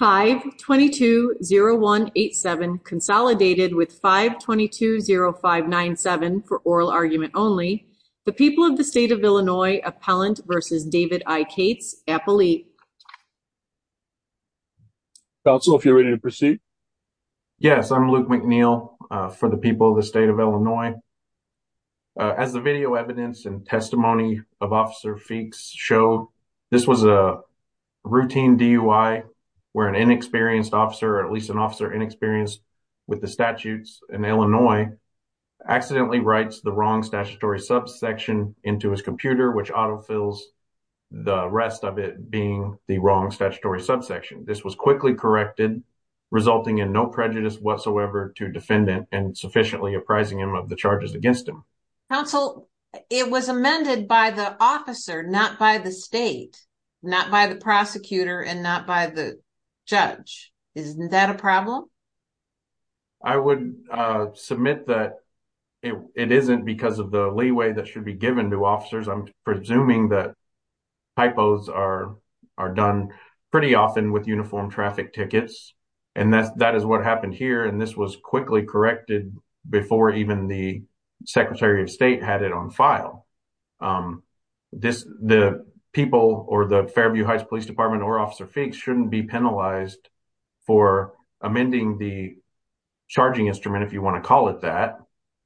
5-220-187 consolidated with 5-220-597 for oral argument only. The people of the state of Illinois, Appellant v. David I. Cates, appellee. Counsel, if you're ready to proceed. Yes, I'm Luke McNeil for the people of the state of Illinois. As the video evidence and testimony of Officer Feekes showed, this was a routine DUI where an inexperienced officer, or at least an officer inexperienced with the statutes in Illinois, accidentally writes the wrong statutory subsection into his computer, which autofills the rest of it being the wrong statutory subsection. This was quickly corrected, resulting in no prejudice whatsoever to defendant and sufficiently apprising him of the charges against him. Counsel, it was amended by the officer, not by the state, not by the prosecutor, and not by the judge. Isn't that a problem? I would submit that it isn't because of the leeway that should be given to officers. I'm presuming that typos are done pretty often with uniformed traffic tickets, and that is what happened here, and this was quickly corrected before even the Secretary of State had it on file. The people or the Fairview Heights Police Department or Officer Feekes shouldn't be penalized for amending the charging instrument, if you want to call it that,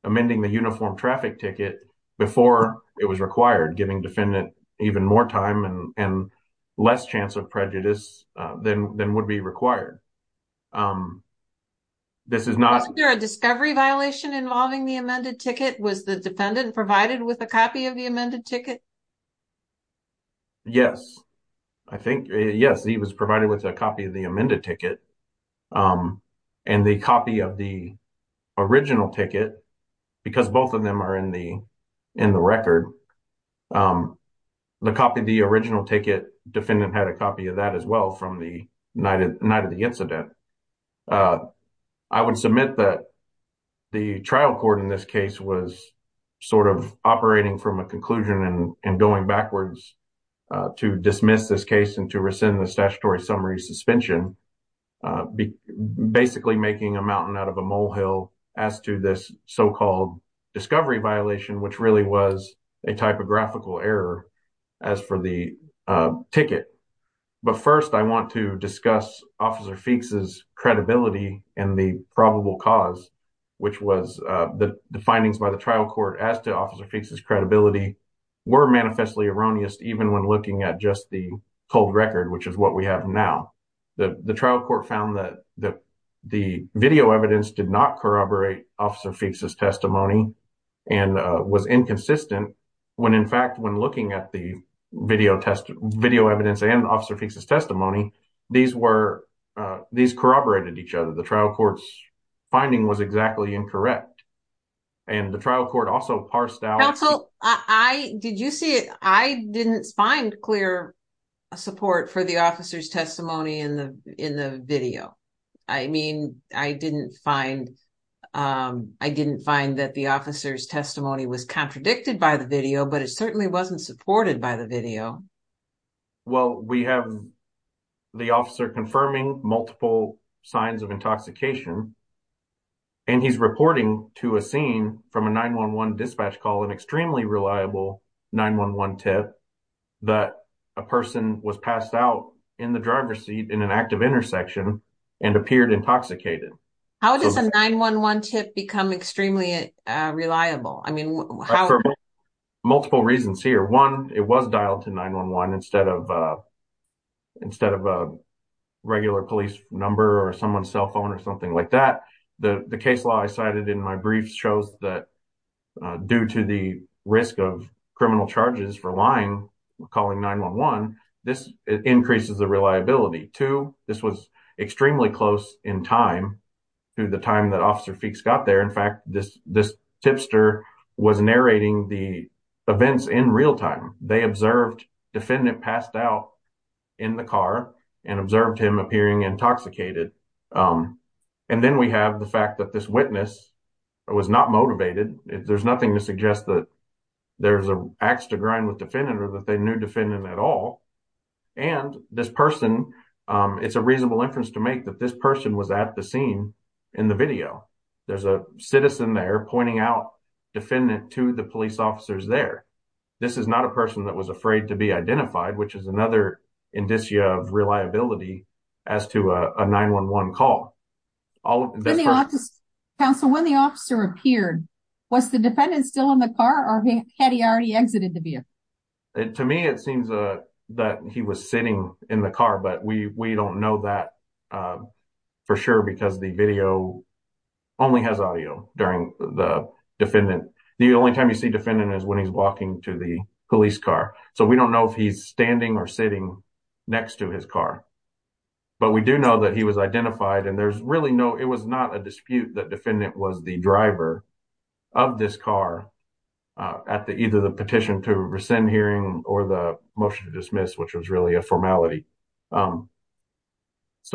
amending the uniformed traffic ticket before it was required, giving defendant even more time and less chance of prejudice than would be required. This is not... Wasn't there a discovery violation involving the amended ticket? Was the defendant provided with a copy of the amended ticket? Yes, I think, yes, he was provided with a copy of the amended ticket. And the copy of the original ticket, because both of them are in the record, the copy of the original ticket, defendant had a copy of that as well from the night of the incident. I would submit that the trial court in this case was sort of operating from a conclusion and going backwards to dismiss this case and to rescind the statutory summary suspension. Basically, making a mountain out of a molehill as to this so-called discovery violation, which really was a typographical error as for the ticket. But first, I want to discuss Officer Feekes' credibility and the probable cause, which was the findings by the trial court as to Officer Feekes' credibility were manifestly erroneous, even when looking at just the cold record, which is what we have now. The trial court found that the video evidence did not corroborate Officer Feekes' testimony and was inconsistent when, in fact, when looking at the video evidence and Officer Feekes' testimony, these corroborated each other. The trial court's finding was exactly incorrect. And the trial court also parsed out... Counsel, did you see it? I didn't find clear support for the officer's testimony in the video. I mean, I didn't find that the officer's testimony was contradicted by the video, but it certainly wasn't supported by the video. Well, we have the officer confirming multiple signs of intoxication, and he's reporting to a scene from a 9-1-1 dispatch call an extremely reliable 9-1-1 tip that a person was passed out in the driver's seat in an active intersection and appeared intoxicated. How does a 9-1-1 tip become extremely reliable? For multiple reasons here. One, it was dialed to 9-1-1 instead of a regular police number or someone's cell phone or something like that. The case law I cited in my briefs shows that due to the risk of criminal charges for lying, calling 9-1-1, this increases the reliability. Two, this was extremely close in time to the time that Officer Feekes got there. In fact, this tipster was narrating the events in real time. They observed defendant passed out in the car and observed him appearing intoxicated. And then we have the fact that this witness was not motivated. There's nothing to suggest that there's an ax to grind with defendant or that they knew defendant at all. And this person, it's a reasonable inference to make that this person was at the scene in the video. There's a citizen there pointing out defendant to the police officers there. This is not a person that was afraid to be identified, which is another indicia of reliability as to a 9-1-1 call. When the officer appeared, was the defendant still in the car or had he already exited the vehicle? To me, it seems that he was sitting in the car. But we don't know that for sure because the video only has audio during the defendant. The only time you see defendant is when he's walking to the police car. So we don't know if he's standing or sitting next to his car. But we do know that he was identified. And there's really no, it was not a dispute that defendant was the driver of this car at either the petition to rescind hearing or the motion to dismiss, which was really a formality. So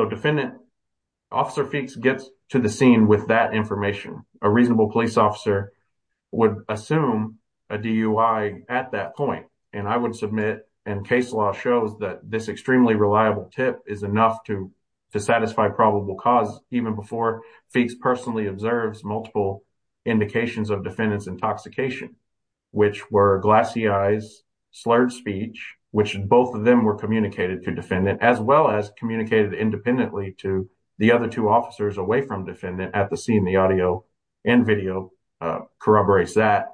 defendant, Officer Feeks gets to the scene with that information. A reasonable police officer would assume a DUI at that point. And I would submit and case law shows that this extremely reliable tip is enough to satisfy probable cause even before Feeks personally observes multiple indications of defendant's intoxication. Which were glassy eyes, slurred speech, which both of them were communicated to defendant as well as communicated independently to the other two officers away from defendant at the scene. The audio and video corroborates that.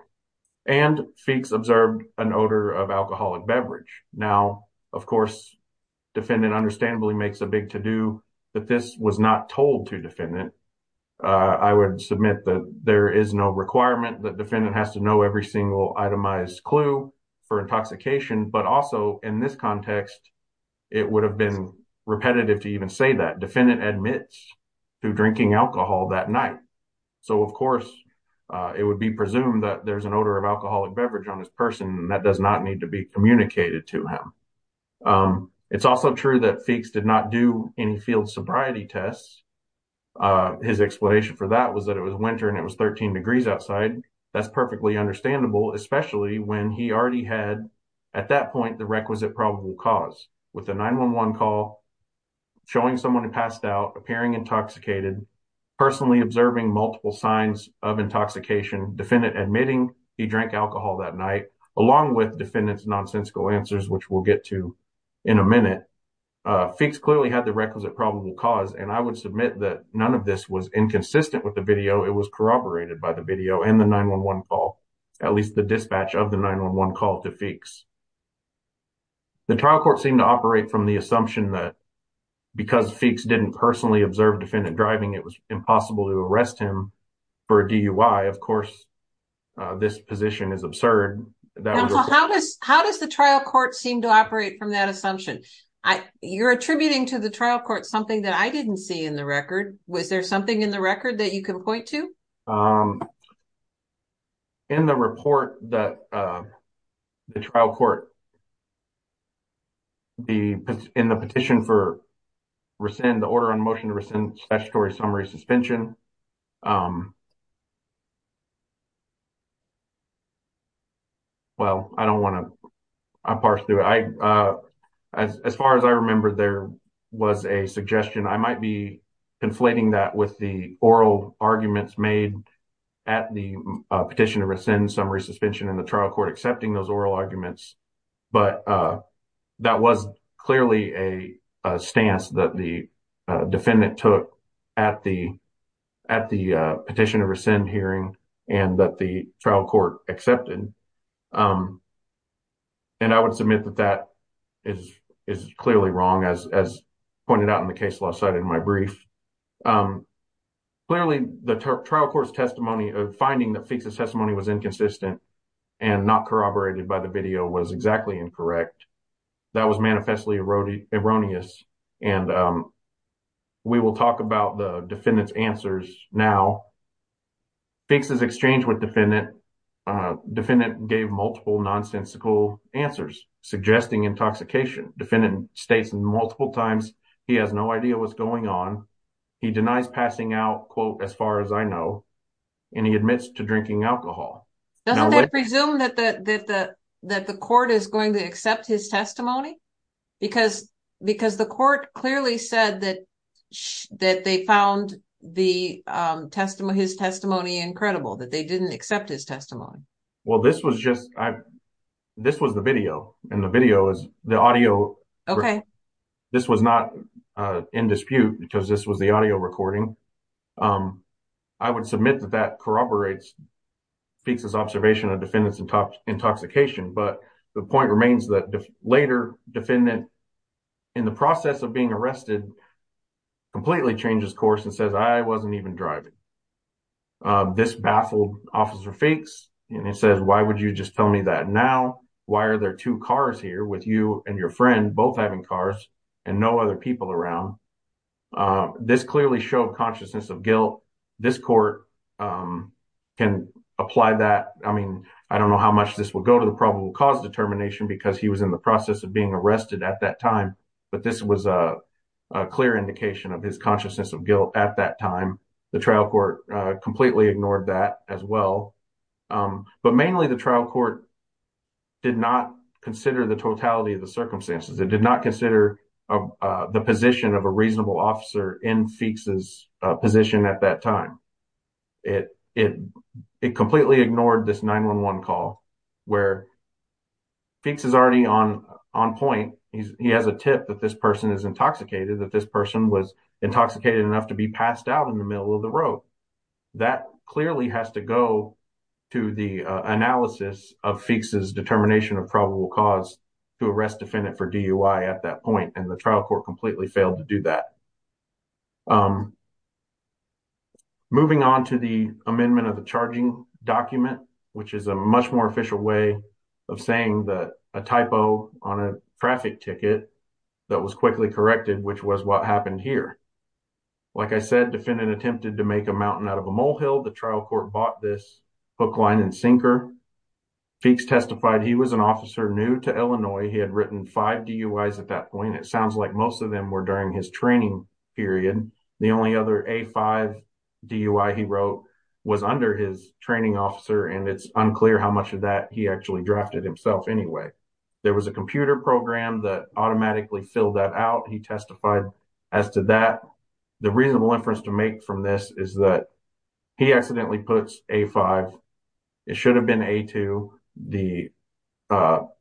And Feeks observed an odor of alcoholic beverage. Now, of course, defendant understandably makes a big to do that this was not told to defendant. I would submit that there is no requirement that defendant has to know every single itemized clue for intoxication. But also in this context, it would have been repetitive to even say that defendant admits to drinking alcohol that night. So, of course, it would be presumed that there's an odor of alcoholic beverage on this person that does not need to be communicated to him. It's also true that Feeks did not do any field sobriety tests. His explanation for that was that it was winter and it was 13 degrees outside. That's perfectly understandable, especially when he already had. At that point, the requisite probable cause with the 911 call. Showing someone who passed out appearing intoxicated. Personally observing multiple signs of intoxication defendant admitting he drank alcohol that night along with defendants nonsensical answers, which we'll get to. In a minute, fix clearly had the requisite probable cause and I would submit that none of this was inconsistent with the video. It was corroborated by the video and the 911 call. At least the dispatch of the 911 call to fix. The trial court seemed to operate from the assumption that. Because fix didn't personally observe defendant driving, it was impossible to arrest him. For DUI, of course, this position is absurd. How does how does the trial court seem to operate from that assumption? You're attributing to the trial court something that I didn't see in the record. Was there something in the record that you can point to? Um, in the report that, uh. The trial court, the, in the petition for. Resend the order on motion to rescind statutory summary suspension. Um, well, I don't want to. As far as I remember, there was a suggestion I might be. Inflating that with the oral arguments made. At the petition to rescind summary suspension in the trial court, accepting those oral arguments. But, uh, that was clearly a stance that the. A defendant took at the at the petition to rescind hearing. And that the trial court accepted, um. And I would submit that that is is clearly wrong as as. Pointed out in the case last night in my brief, um. Clearly, the trial court's testimony of finding the testimony was inconsistent. And not corroborated by the video was exactly incorrect. That was manifestly erroneous and, um. We will talk about the defendant's answers now. Fixes exchange with defendant. Defendant gave multiple nonsensical answers. Suggesting intoxication defendant states multiple times. He has no idea what's going on. He denies passing out quote as far as I know. And he admits to drinking alcohol. Doesn't presume that the, that the. That the court is going to accept his testimony. Because because the court clearly said that. That they found the testimony, his testimony. Incredible that they didn't accept his testimony. Well, this was just I. This was the video and the video is the audio. Okay, this was not in dispute because this was the audio recording. I would submit that that corroborates. Fixes observation of defendants and intoxication. But the point remains that later defendant. In the process of being arrested. Completely changes course and says, I wasn't even driving. This baffled officer fakes and it says, why would you just tell me that now? Why are there 2 cars here with you and your friend? Both having cars and no other people around. This clearly show consciousness of guilt. This court can apply that. I mean, I don't know how much this will go to the probable cause determination. Because he was in the process of being arrested at that time. But this was a clear indication of his consciousness of guilt. At that time, the trial court completely ignored that as well. But mainly the trial court. Did not consider the totality of the circumstances. It did not consider the position of a reasonable officer in fixes position at that time. It, it, it completely ignored this 911 call. Where fix is already on on point. He has a tip that this person is intoxicated that this person was. Intoxicated enough to be passed out in the middle of the road. That clearly has to go. To the analysis of fixes determination of probable cause. To arrest defendant for at that point, and the trial court completely failed to do that. Moving on to the amendment of the charging document. Which is a much more official way. Of saying that a typo on a traffic ticket. That was quickly corrected, which was what happened here. Like I said, defendant attempted to make a mountain out of a molehill. The trial court bought this hook line and sinker. Fix testified he was an officer new to Illinois. He had written 5 at that point. It sounds like most of them were during his training period. The only other, he wrote was under his training officer. And it's unclear how much of that he actually drafted himself. Anyway, there was a computer program that automatically fill that out. He testified as to that. The reasonable inference to make from this is that. He accidentally puts a 5. It should have been a to the.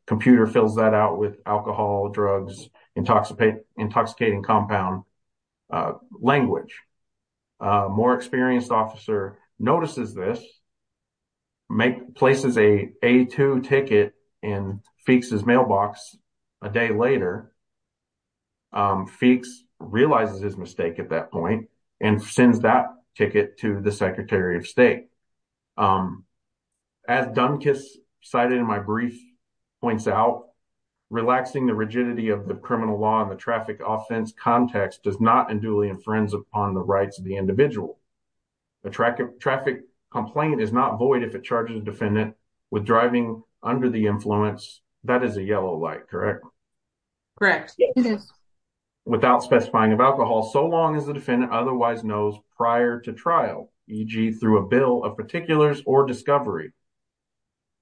Computer fills that out with alcohol drugs. Intoxicate intoxicating compound. Language more experienced officer notices this. Make places a 2 ticket and fix his mailbox. A day later. Fix realizes his mistake at that point. And sends that ticket to the secretary of state. As Duncan cited in my brief. Points out relaxing the rigidity of the criminal law. The traffic offense context does not and duly and friends upon the rights of the individual. The traffic traffic complaint is not void. If it charges a defendant with driving under the influence. That is a yellow light, correct? Correct. Without specifying of alcohol. So long as the defendant otherwise knows prior to trial. E.g. through a bill of particulars or discovery.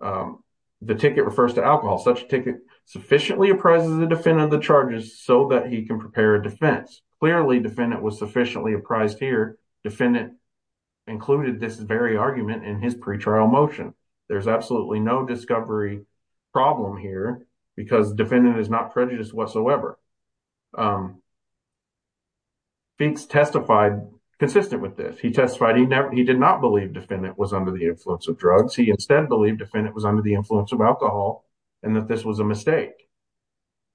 The ticket refers to alcohol such ticket. Sufficiently appraises the defendant the charges so that he can prepare a defense. Clearly defendant was sufficiently apprised here. Defendant included this very argument in his pre trial motion. There's absolutely no discovery problem here. Because defendant is not prejudiced whatsoever. Fix testified consistent with this. He testified he never he did not believe defendant was under the influence of drugs. He instead believed defendant was under the influence of alcohol. And that this was a mistake.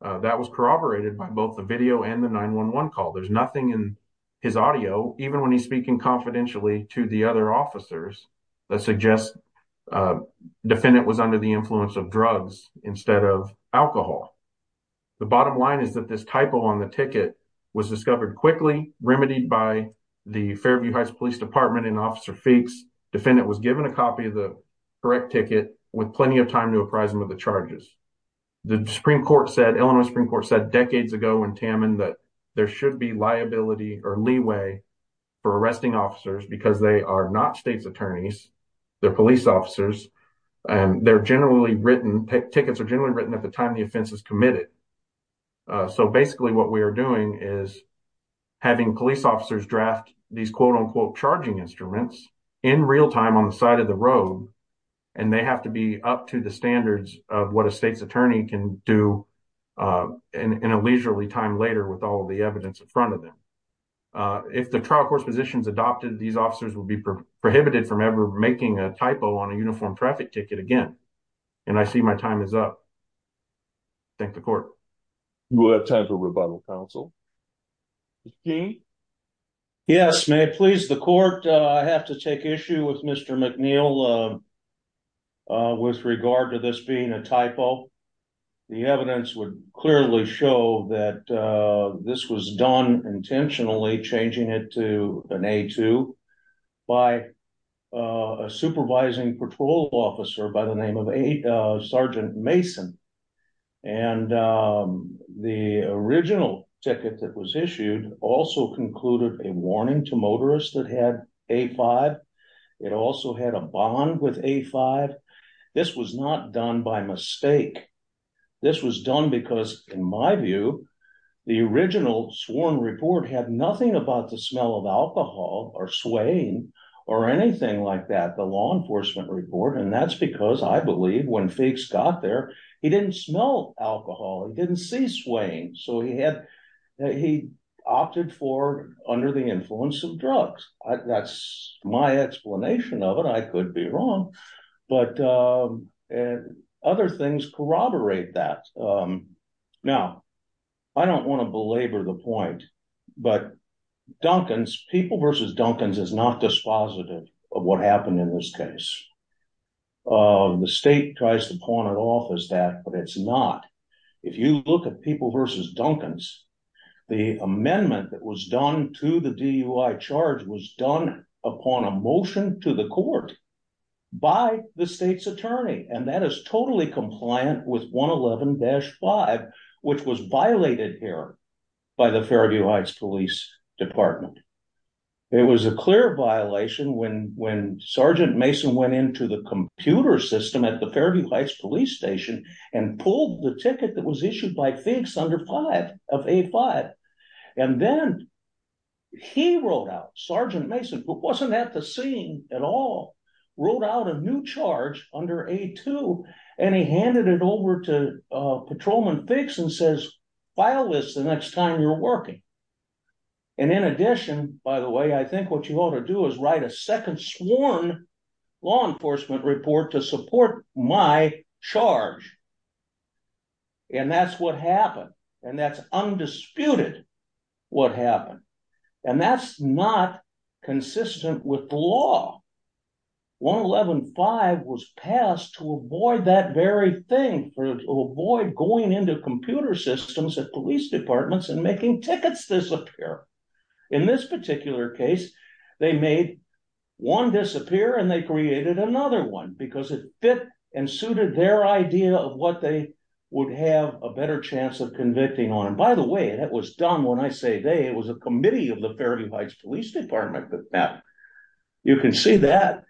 That was corroborated by both the video and the 911 call. There's nothing in his audio. Even when he's speaking confidentially to the other officers. That suggests defendant was under the influence of drugs instead of alcohol. The bottom line is that this typo on the ticket was discovered quickly. Remedied by the Fairview Heights Police Department and officer fix. Defendant was given a copy of the correct ticket. With plenty of time to apprise him of the charges. The Supreme Court said Illinois Supreme Court said decades ago in Tamman. That there should be liability or leeway. For arresting officers because they are not state's attorneys. They're police officers and they're generally written. Tickets are generally written at the time the offense is committed. So basically what we are doing is. Having police officers draft these quote unquote charging instruments. In real time on the side of the road. And they have to be up to the standards of what a state's attorney can do. In a leisurely time later with all the evidence in front of them. If the trial court's position is adopted. These officers will be prohibited from ever making a typo. On a uniform traffic ticket again. And I see my time is up. Thank the court. We'll have time for rebuttal counsel. Yes, may it please the court. I have to take issue with Mr McNeil. Uh, with regard to this being a typo. The evidence would clearly show that this was done intentionally. Changing it to an A2 by a supervising patrol officer. By the name of a Sergeant Mason. And the original ticket that was issued. Also concluded a warning to motorists that had A5. It also had a bond with A5. This was not done by mistake. This was done because in my view. The original sworn report had nothing about the smell of alcohol. Or swaying or anything like that. The law enforcement report. And that's because I believe when Feeks got there. He didn't smell alcohol. He didn't see swaying. So he had he opted for under the influence of drugs. That's my explanation of it. I could be wrong. But other things corroborate that. Now, I don't want to belabor the point. But Duncans. People versus Duncans is not dispositive of what happened in this case. The state tries to pawn it off as that. But it's not. If you look at people versus Duncans. The amendment that was done to the DUI charge. Was done upon a motion to the court. By the state's attorney. And that is totally compliant with 111-5. Which was violated here. By the Fairview Heights Police Department. It was a clear violation. When Sergeant Mason went into the computer system. At the Fairview Heights Police Station. And pulled the ticket that was issued by FIGS under 5 of A-5. And then he wrote out. Sergeant Mason. But wasn't at the scene at all. Wrote out a new charge under A-2. And he handed it over to Patrolman FIGS. And says file this the next time you're working. And in addition. By the way. I think what you ought to do is write a second sworn. Law enforcement report to support my charge. And that's what happened. And that's undisputed what happened. And that's not consistent with the law. 111-5 was passed to avoid that very thing. To avoid going into computer systems at police departments. And making tickets disappear. In this particular case. They made one disappear. And they created another one. Because it fit and suited their idea. Of what they would have a better chance of convicting on. And by the way. That was done when I say they. It was a committee of the Fairview Heights Police Department. You can see that.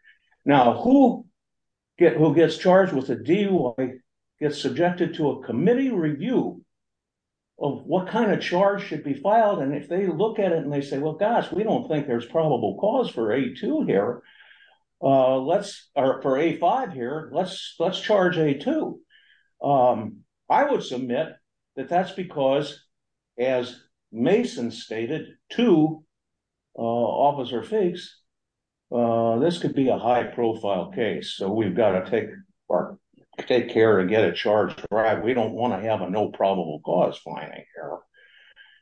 Now who gets charged with a DUI. Gets subjected to a committee review. Of what kind of charge should be filed. And if they look at it. And they say. Well gosh. We don't think there's probable cause for A-2 here. Or for A-5 here. Let's charge A-2. I would submit. That that's because. As Mason stated. To Officer Figgs. This could be a high profile case. So we've got to take care. And get a charge derived. We don't want to have a no probable cause finding here.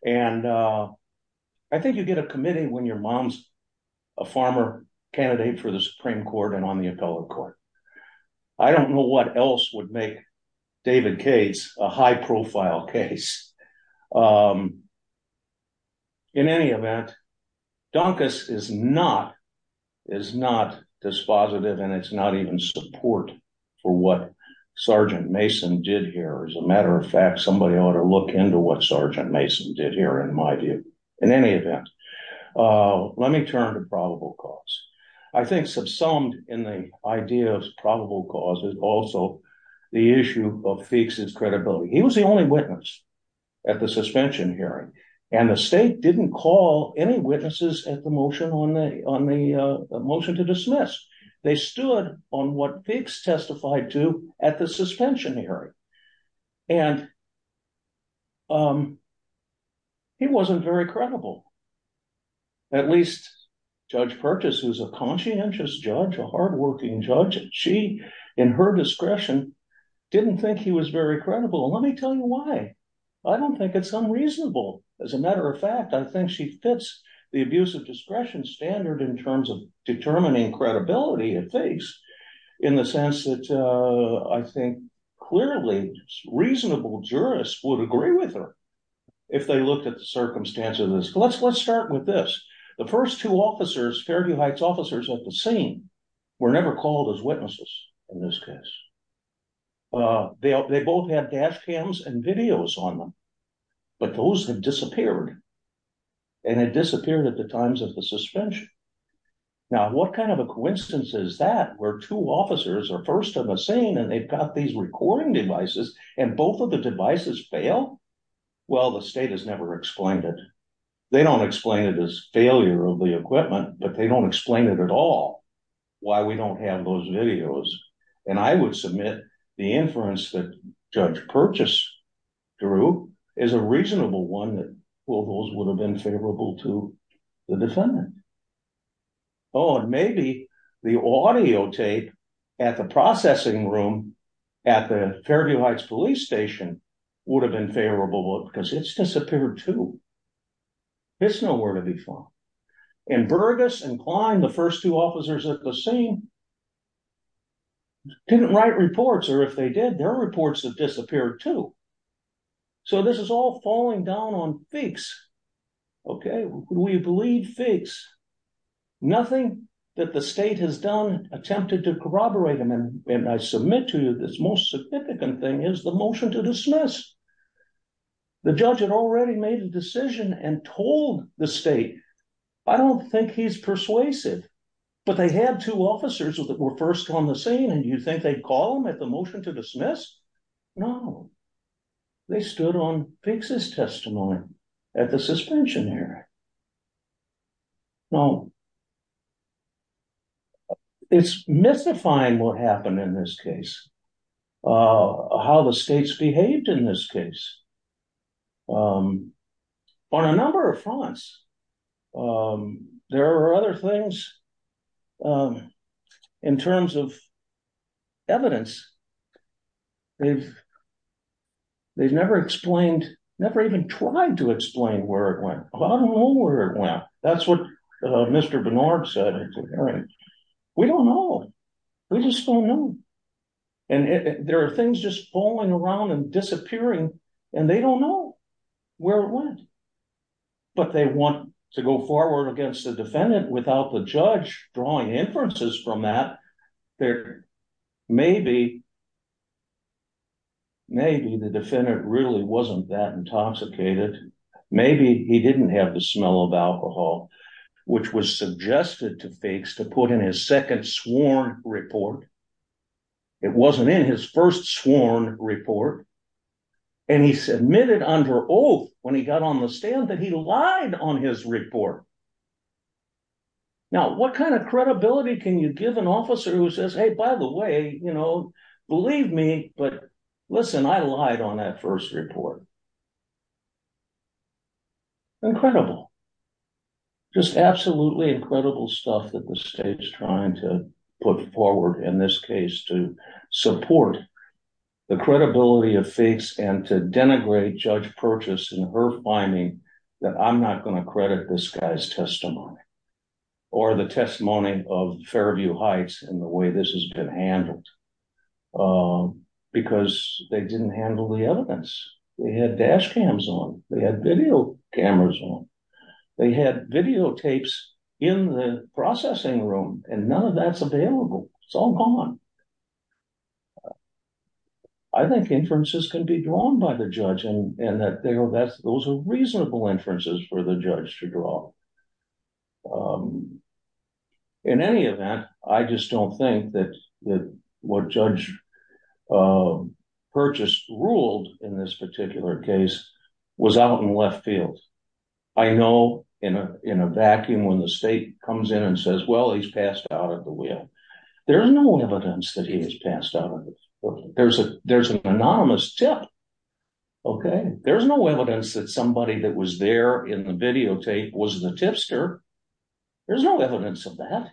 And I think you get a committee. When your mom's a farmer. Candidate for the Supreme Court. And on the appellate court. I don't know what else would make David Cates. A high profile case. In any event. Donkus is not. Is not dispositive. And it's not even support. For what Sergeant Mason did here. As a matter of fact. Somebody ought to look into what Sergeant Mason did here. In my view. In any event. Let me turn to probable cause. I think subsumed. In the idea of probable cause. Is also the issue of Figgs's credibility. He was the only witness. At the suspension hearing. And the state didn't call any witnesses. At the motion on the. On the motion to dismiss. They stood on what Figgs testified to. At the suspension hearing. And. He wasn't very credible. At least. Judge Purchase. Who's a conscientious judge. A hardworking judge. She. In her discretion. Didn't think he was very credible. And let me tell you why. I don't think it's unreasonable. As a matter of fact. I think she fits. The abuse of discretion standard. In terms of determining credibility. At Figgs. In the sense that. I think. Clearly. Reasonable jurists would agree with her. If they looked at the circumstances. Let's let's start with this. The first two officers. Fairview Heights officers. At the scene. Were never called as witnesses. In this case. They both had dash cams. And videos on them. But those have disappeared. And it disappeared. At the times of the suspension. Now what kind of a coincidence. Is that where two officers. Are first on the scene. And they've got these recording devices. And both of the devices fail. Well the state has never explained it. They don't explain it. Failure of the equipment. But they don't explain it at all. Why we don't have those videos. And I would submit. The inference that. Judge Purchase. Drew. Is a reasonable one that. Well those would have been favorable to. The defendant. Oh and maybe. The audio tape. At the processing room. At the Fairview Heights police station. Would have been favorable. Because it's disappeared too. It's nowhere to be found. And Burgess and Klein. The first two officers at the scene. Didn't write reports. Or if they did. Their reports have disappeared too. So this is all falling down on fakes. Okay. We believe fakes. Nothing that the state has done. Attempted to corroborate them. And I submit to you. This most significant thing. Is the motion to dismiss. The judge had already made a decision. And told the state. I don't think he's persuasive. But they had two officers. That were first on the scene. And you think they'd call them. At the motion to dismiss. No. They stood on. Fixes testimony. At the suspension hearing. No. It's mystifying what happened. In this case. How the states behaved. In this case. On a number of fronts. There are other things. In terms of. Evidence. They've. They've never explained. Never even tried to explain. Where it went. I don't know where it went. That's what Mr. Bernard said. At the hearing. We don't know. We just don't know. And there are things. Just falling around. And disappearing. And they don't know. Where it went. But they want. To go forward. Against the defendant. Without the judge. Drawing inferences from that. There. Maybe. Maybe the defendant. Really wasn't that intoxicated. Maybe he didn't have. The smell of alcohol. Which was suggested to fix. To put in his second sworn report. It wasn't in his first sworn report. And he submitted under oath. When he got on the stand. That he lied on his report. Now what kind of credibility. Can you give an officer who says. Hey by the way. You know. Believe me. But listen. I lied on that first report. Incredible. Just absolutely incredible stuff. That the state's trying to. Put forward in this case. To support. The credibility of fakes. And to denigrate Judge Purchase. In her finding. That I'm not going to credit. This guy's testimony. Or the testimony of Fairview Heights. And the way this has been handled. Because they didn't handle the evidence. They had dash cams on. They had video cameras on. They had videotapes. In the processing room. And none of that's available. It's all gone. I think inferences. Can be drawn by the judge. And that those are reasonable inferences. For the judge to draw. In any event. I just don't think that. What Judge Purchase ruled. In this particular case. Was out in left field. I know in a vacuum. When the state comes in and says. Well he's passed out of the wheel. There's no evidence of that. He's passed out. There's an anonymous tip. Okay. There's no evidence that somebody. That was there in the videotape. Was the tipster. There's no evidence of that.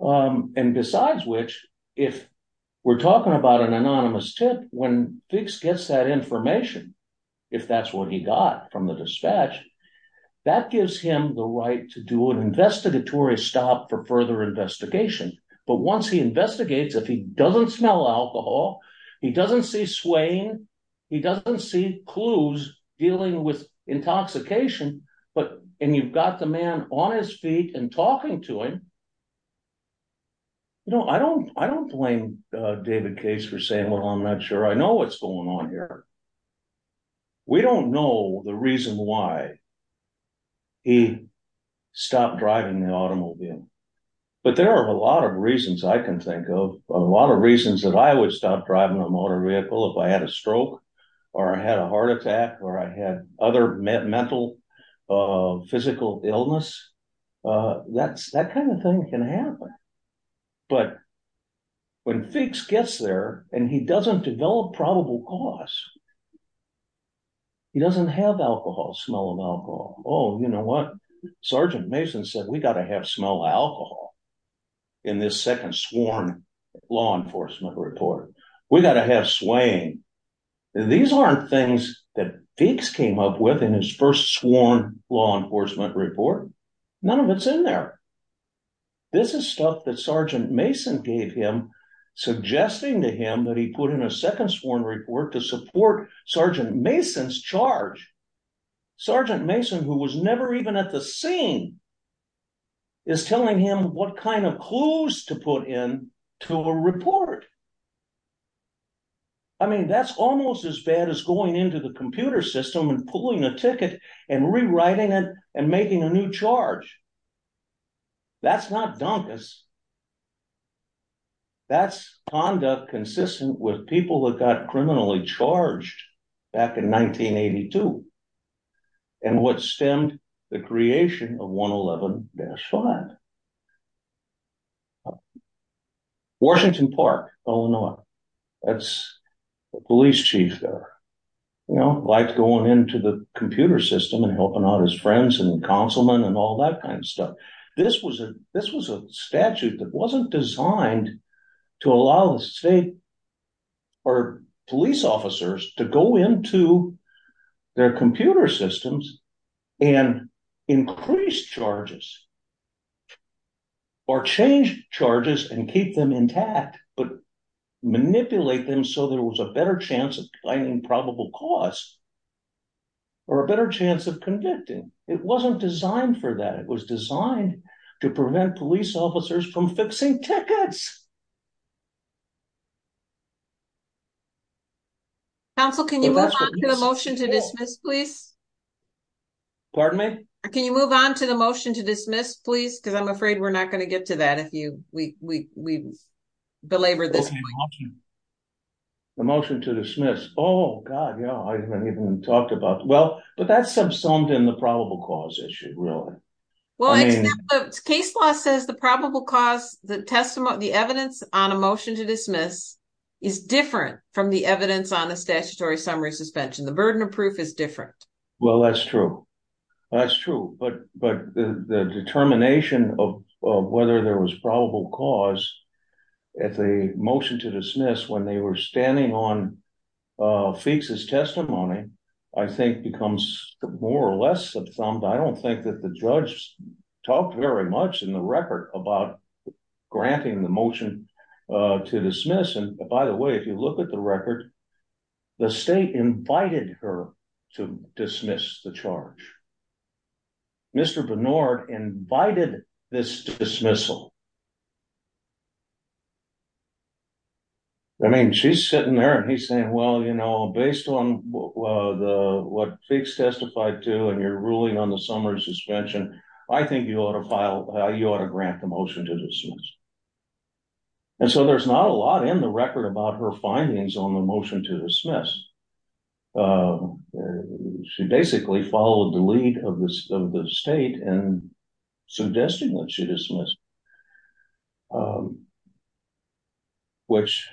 And besides which. If we're talking about an anonymous tip. When Fuchs gets that information. If that's what he got from the dispatch. That gives him the right. To do an investigatory stop. For further investigation. But once he investigates. If he doesn't smell alcohol. He doesn't see swaying. He doesn't see clues. Dealing with intoxication. But and you've got the man on his feet. And talking to him. You know I don't. I don't blame David Case. For saying well I'm not sure. I know what's going on here. We don't know the reason why. He stopped driving the automobile. But there are a lot of reasons. I can think of. A lot of reasons. That I would stop driving a motor vehicle. If I had a stroke. Or I had a heart attack. Or I had other mental. Physical illness. That's that kind of thing can happen. But when Fuchs gets there. And he doesn't develop probable cause. He doesn't have alcohol. Smell of alcohol. Oh you know what? Sergeant Mason said. We got to have smell of alcohol. In this second sworn law enforcement report. We got to have swaying. These aren't things that Fuchs came up with. In his first sworn law enforcement report. None of it's in there. This is stuff that Sergeant Mason gave him. Suggesting to him. That he put in a second sworn report. To support Sergeant Mason's charge. Sergeant Mason who was never even at the scene. Is telling him what kind of clues. To put in to a report. I mean that's almost as bad. As going into the computer system. And pulling a ticket. And rewriting it. And making a new charge. That's not donkus. That's conduct consistent. With people that got criminally charged. Back in 1982. And what stemmed the creation of 111-5. Washington Park, Illinois. That's the police chief there. You know liked going into the computer system. And helping out his friends and councilmen. And all that kind of stuff. This was a statute that wasn't designed. To allow the state or police officers. To go into their computer systems. And increase charges. Or change charges. And keep them intact. But manipulate them. So there was a better chance of finding probable cause. Or a better chance of convicting. It wasn't designed for that. It was designed to prevent police officers. From fixing tickets. Can you move on to the motion to dismiss please? Pardon me? Can you move on to the motion to dismiss please? Because I'm afraid we're not going to get to that. If we belabor this. The motion to dismiss. Oh god yeah. I haven't even talked about. Well but that's subsumed in the probable cause issue really. Well case law says the probable cause. The testimony. The evidence on a motion to dismiss. Is different from the evidence on the statutory summary suspension. The burden of proof is different. Well that's true. That's true. But the determination of whether there was probable cause. At the motion to dismiss. When they were standing on Feeks's testimony. I think becomes more or less subsumed. I don't think that the judge talked very much in the record. About granting the motion to dismiss. And by the way if you look at the record. The state invited her to dismiss the charge. Mr. Bernard invited this dismissal. I mean she's sitting there and he's saying. Well you know based on what Feeks testified to. And your ruling on the summary suspension. I think you ought to file. You ought to grant the motion to dismiss. And so there's not a lot in the record. About her findings on the motion to dismiss. She basically followed the lead of the state. And suggesting that she dismissed. Which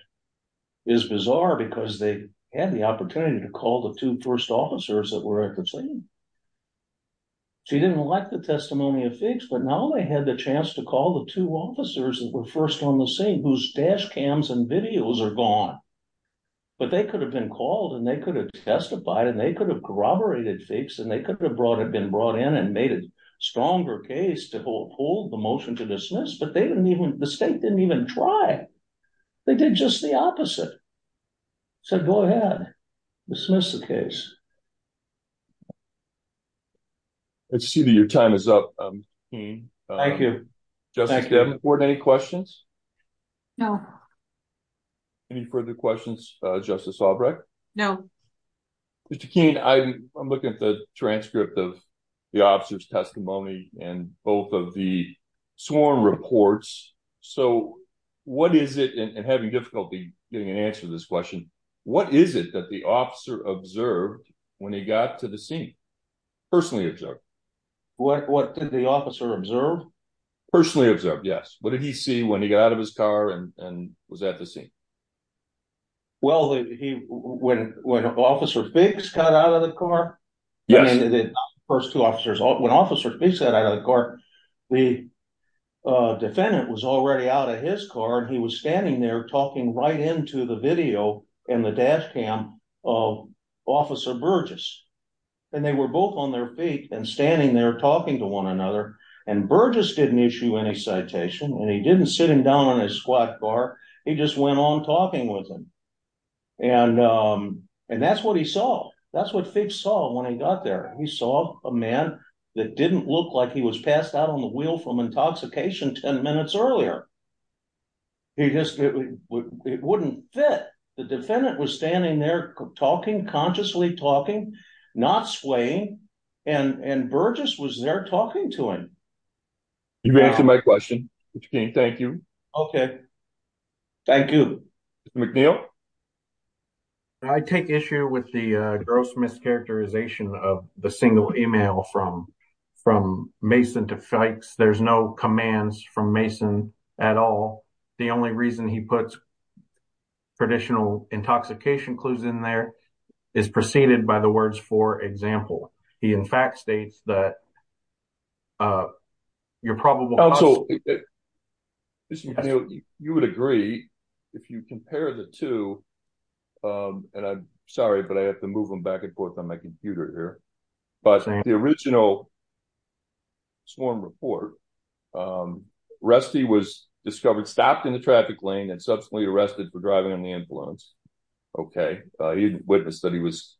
is bizarre. Because they had the opportunity. To call the two first officers that were at the scene. She didn't like the testimony of Feeks. But now they had the chance to call the two officers. That were first on the scene. Whose dash cams and videos are gone. But they could have been called. And they could have testified. And they could have corroborated Feeks. And they could have been brought in. And made a stronger case to hold the motion to dismiss. But they didn't even. They did just the opposite. Said go ahead dismiss the case. Let's see that your time is up. Thank you. Justice Devenport any questions? No. Any further questions? Justice Albrecht? No. Mr. Keene I'm looking at the transcript. Of the officer's testimony. And both of the sworn reports. So what is it and having difficulty. Getting an answer to this question. What is it that the officer observed. When he got to the scene. Personally observed. What did the officer observe? Personally observed yes. What did he see when he got out of his car. And was at the scene. Well he when when officer Feeks got out of the car. Yes the first two officers. When officer Feeks got out of the car. The defendant was already out of his car. And he was standing there. Talking right into the video. And the dash cam of officer Burgess. And they were both on their feet. And standing there talking to one another. And Burgess didn't issue any citation. And he didn't sit him down in a squat car. He just went on talking with him. And and that's what he saw. That's what Feeks saw when he got there. He saw a man that didn't look like. He was passed out on the wheel. From intoxication 10 minutes earlier. He just it wouldn't fit. The defendant was standing there talking. Consciously talking. Not swaying. And and Burgess was there talking to him. You've answered my question. Thank you. Okay. Thank you. McNeil. I take issue with the gross mischaracterization. Of the single email from from Mason to Feeks. There's no commands from Mason at all. The only reason he puts. Traditional intoxication clues in there. Is preceded by the words for example. He in fact states that. You're probably also. You would agree. If you compare the two. And I'm sorry. But I have to move them back and forth on my computer here. But the original. Swarm report. Rusty was discovered. Stopped in the traffic lane. And subsequently arrested for driving on the ambulance. Okay. He witnessed that he was.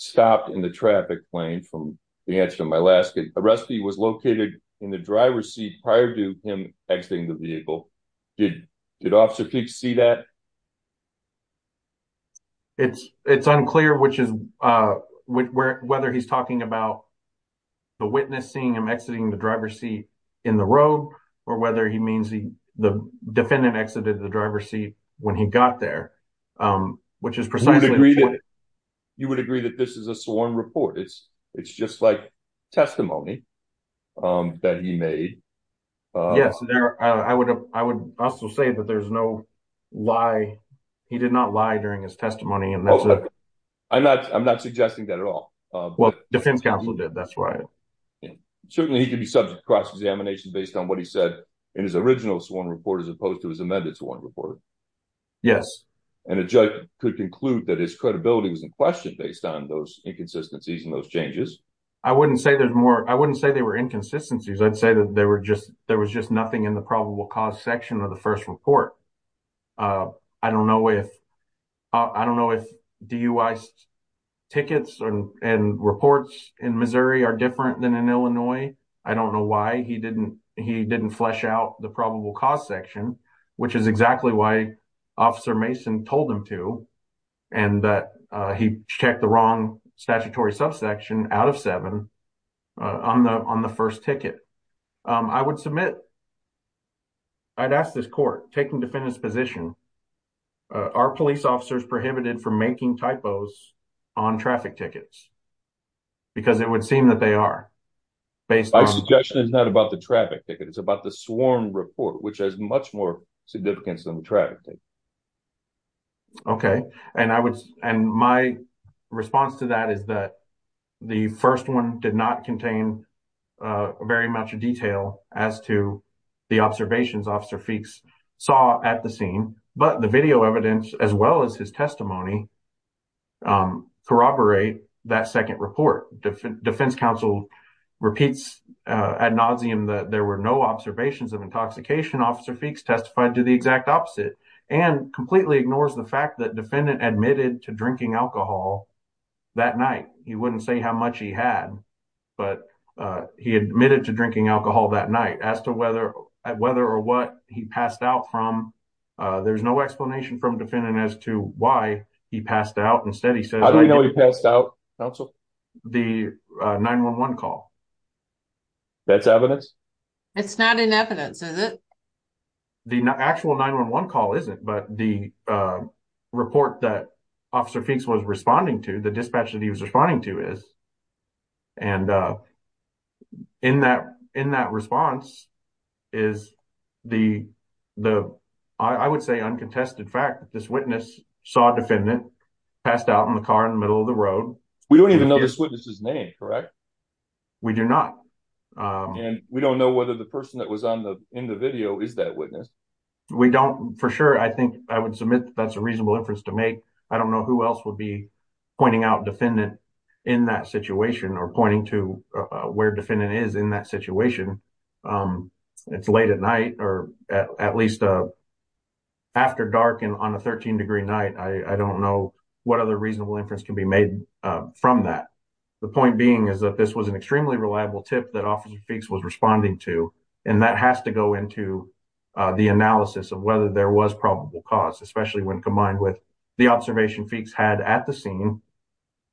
Stopped in the traffic plane from. The answer to my last. Rusty was located in the driver's seat. Prior to him exiting the vehicle. Did did officer Peaks see that? It's it's unclear which is. Whether he's talking about. The witnessing him exiting the driver's seat. In the road. Or whether he means he. The defendant exited the driver's seat. When he got there. Which is precisely. You would agree that this is a sworn report. It's it's just like testimony. That he made. Yes, I would. I would also say that there's no. Why he did not lie during his testimony. I'm not I'm not suggesting that at all. Defense counsel did. That's right. Certainly he could be subject. Cross examination based on what he said. In his original sworn report. As opposed to his amended to 1 report. Yes. And a judge could conclude. That his credibility was in question. Based on those inconsistencies. And those changes. I wouldn't say there's more. I wouldn't say they were inconsistencies. I'd say that they were just. There was just nothing in the probable cause. Section of the 1st report. I don't know if. I don't know if do you. Tickets and reports. In Missouri are different than in Illinois. I don't know why he didn't. He didn't flesh out the probable cause section. Which is exactly why. Officer Mason told him to. And that he checked the wrong. Statutory subsection out of 7. On the on the 1st ticket. I would submit. I'd ask this court taking defendant's position. Uh, our police officers prohibited. From making typos. On traffic tickets. Because it would seem that they are. Based on suggestion. It's not about the traffic ticket. It's about the swarm report. Which has much more. Significance than the traffic. Okay. And I would. And my response to that is that. The 1st 1 did not contain. Very much a detail as to. The observations officer feeks. Saw at the scene. But the video evidence. As well as his testimony. Corroborate that 2nd report. Defense counsel. Repeats ad nauseum that. There were no observations of intoxication. Officer feeks testified to the exact opposite. And completely ignores the fact that. Defendant admitted to drinking alcohol. That night. He wouldn't say how much he had. But he admitted to drinking alcohol. That night as to whether. Whether or what he passed out from. There's no explanation from defendant. As to why. He passed out instead. He said, I don't know. He passed out. Council the 911 call. That's evidence. It's not in evidence. Is it. The actual 911 call isn't. But the report that. Officer feeks was responding to. The dispatch that he was responding to is. And in that in that response. Is the the. I would say uncontested fact that this witness. Saw defendant. Passed out in the car in the middle of the road. We don't even know this witness's name. Correct. We do not. And we don't know whether the person. That was on the in the video. Is that witness? We don't for sure. I think I would submit. That's a reasonable inference to make. I don't know who else would be. Pointing out defendant. In that situation or pointing to. Where defendant is in that situation. It's late at night or at least. After dark and on a 13 degree night. I don't know what other reasonable inference. Can be made from that. The point being is that this was an extremely. Reliable tip that officer feeks was responding to. And that has to go into. The analysis of whether there was probable cause. Especially when combined with. The observation feeks had at the scene.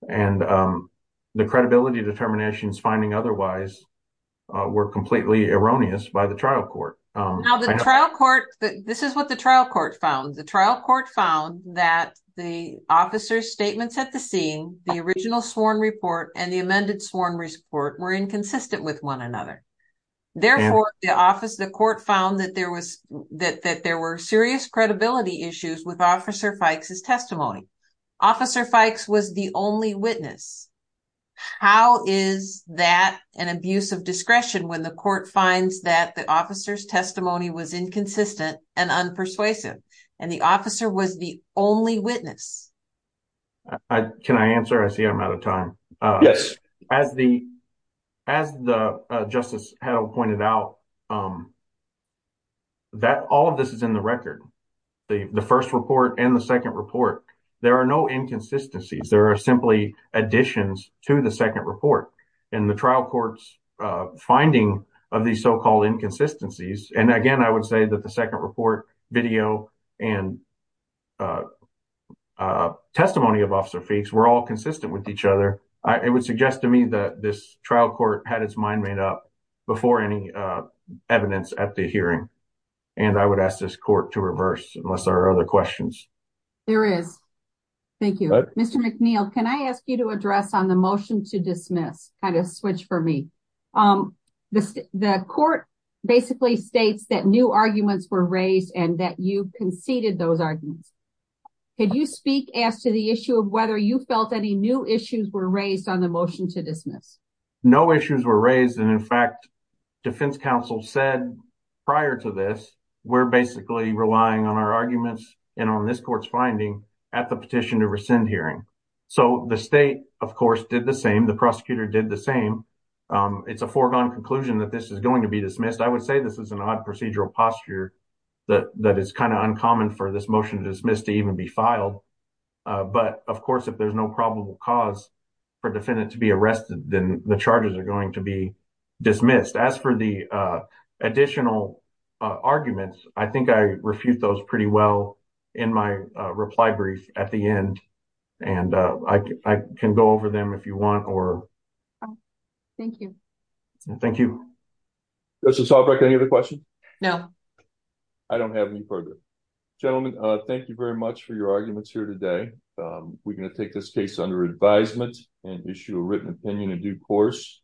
And the credibility determinations. Finding otherwise. Were completely erroneous by the trial court. Now the trial court. This is what the trial court found. The trial court found. That the officer's statements at the scene. The original sworn report. And the amended sworn report. Were inconsistent with one another. Therefore the office. The court found that there was. That there were serious credibility issues. With officer feeks testimony. Officer feeks was the only witness. How is that an abuse of discretion. When the court finds that the officer's testimony. Was inconsistent and unpersuasive. And the officer was the only witness. Can I answer? I see I'm out of time. As the. As the justice had pointed out. That all of this is in the record. The 1st report and the 2nd report. There are no inconsistencies. There are simply additions. To the 2nd report. And the trial court's finding. Of these so-called inconsistencies. And again I would say that the 2nd report. Video and. Testimony of officer feeks. Were all consistent with each other. It would suggest to me that. This trial court had its mind made up. Before any evidence at the hearing. And I would ask this court to reverse. Unless there are other questions. There is. Thank you. Mr McNeil. Can I ask you to address. On the motion to dismiss. Kind of switch for me. The court basically states. That new arguments were raised. And that you conceded those arguments. Could you speak as to the issue. Of whether you felt any new issues. Were raised on the motion to dismiss. No issues were raised. And in fact. Defense counsel said. Prior to this. We're basically relying on our arguments. And on this court's finding. At the petition to rescind hearing. So the state. Of course did the same. The prosecutor did the same. It's a foregone conclusion. That this is going to be dismissed. I would say this is an odd procedural posture. That is kind of uncommon. For this motion to dismiss. To even be filed. But of course. If there's no probable cause. For defendant to be arrested. Then the charges are going to be. Dismissed as for the. Additional arguments. I think I refute those pretty well. In my reply brief. At the end. And I can go over them. If you want or. Thank you. Thank you. Justice Albrecht. Any other questions? No. I don't have any further. Gentlemen. Thank you very much. For your arguments here today. We're going to take this case. Under advisement. And issue a written opinion. In due course.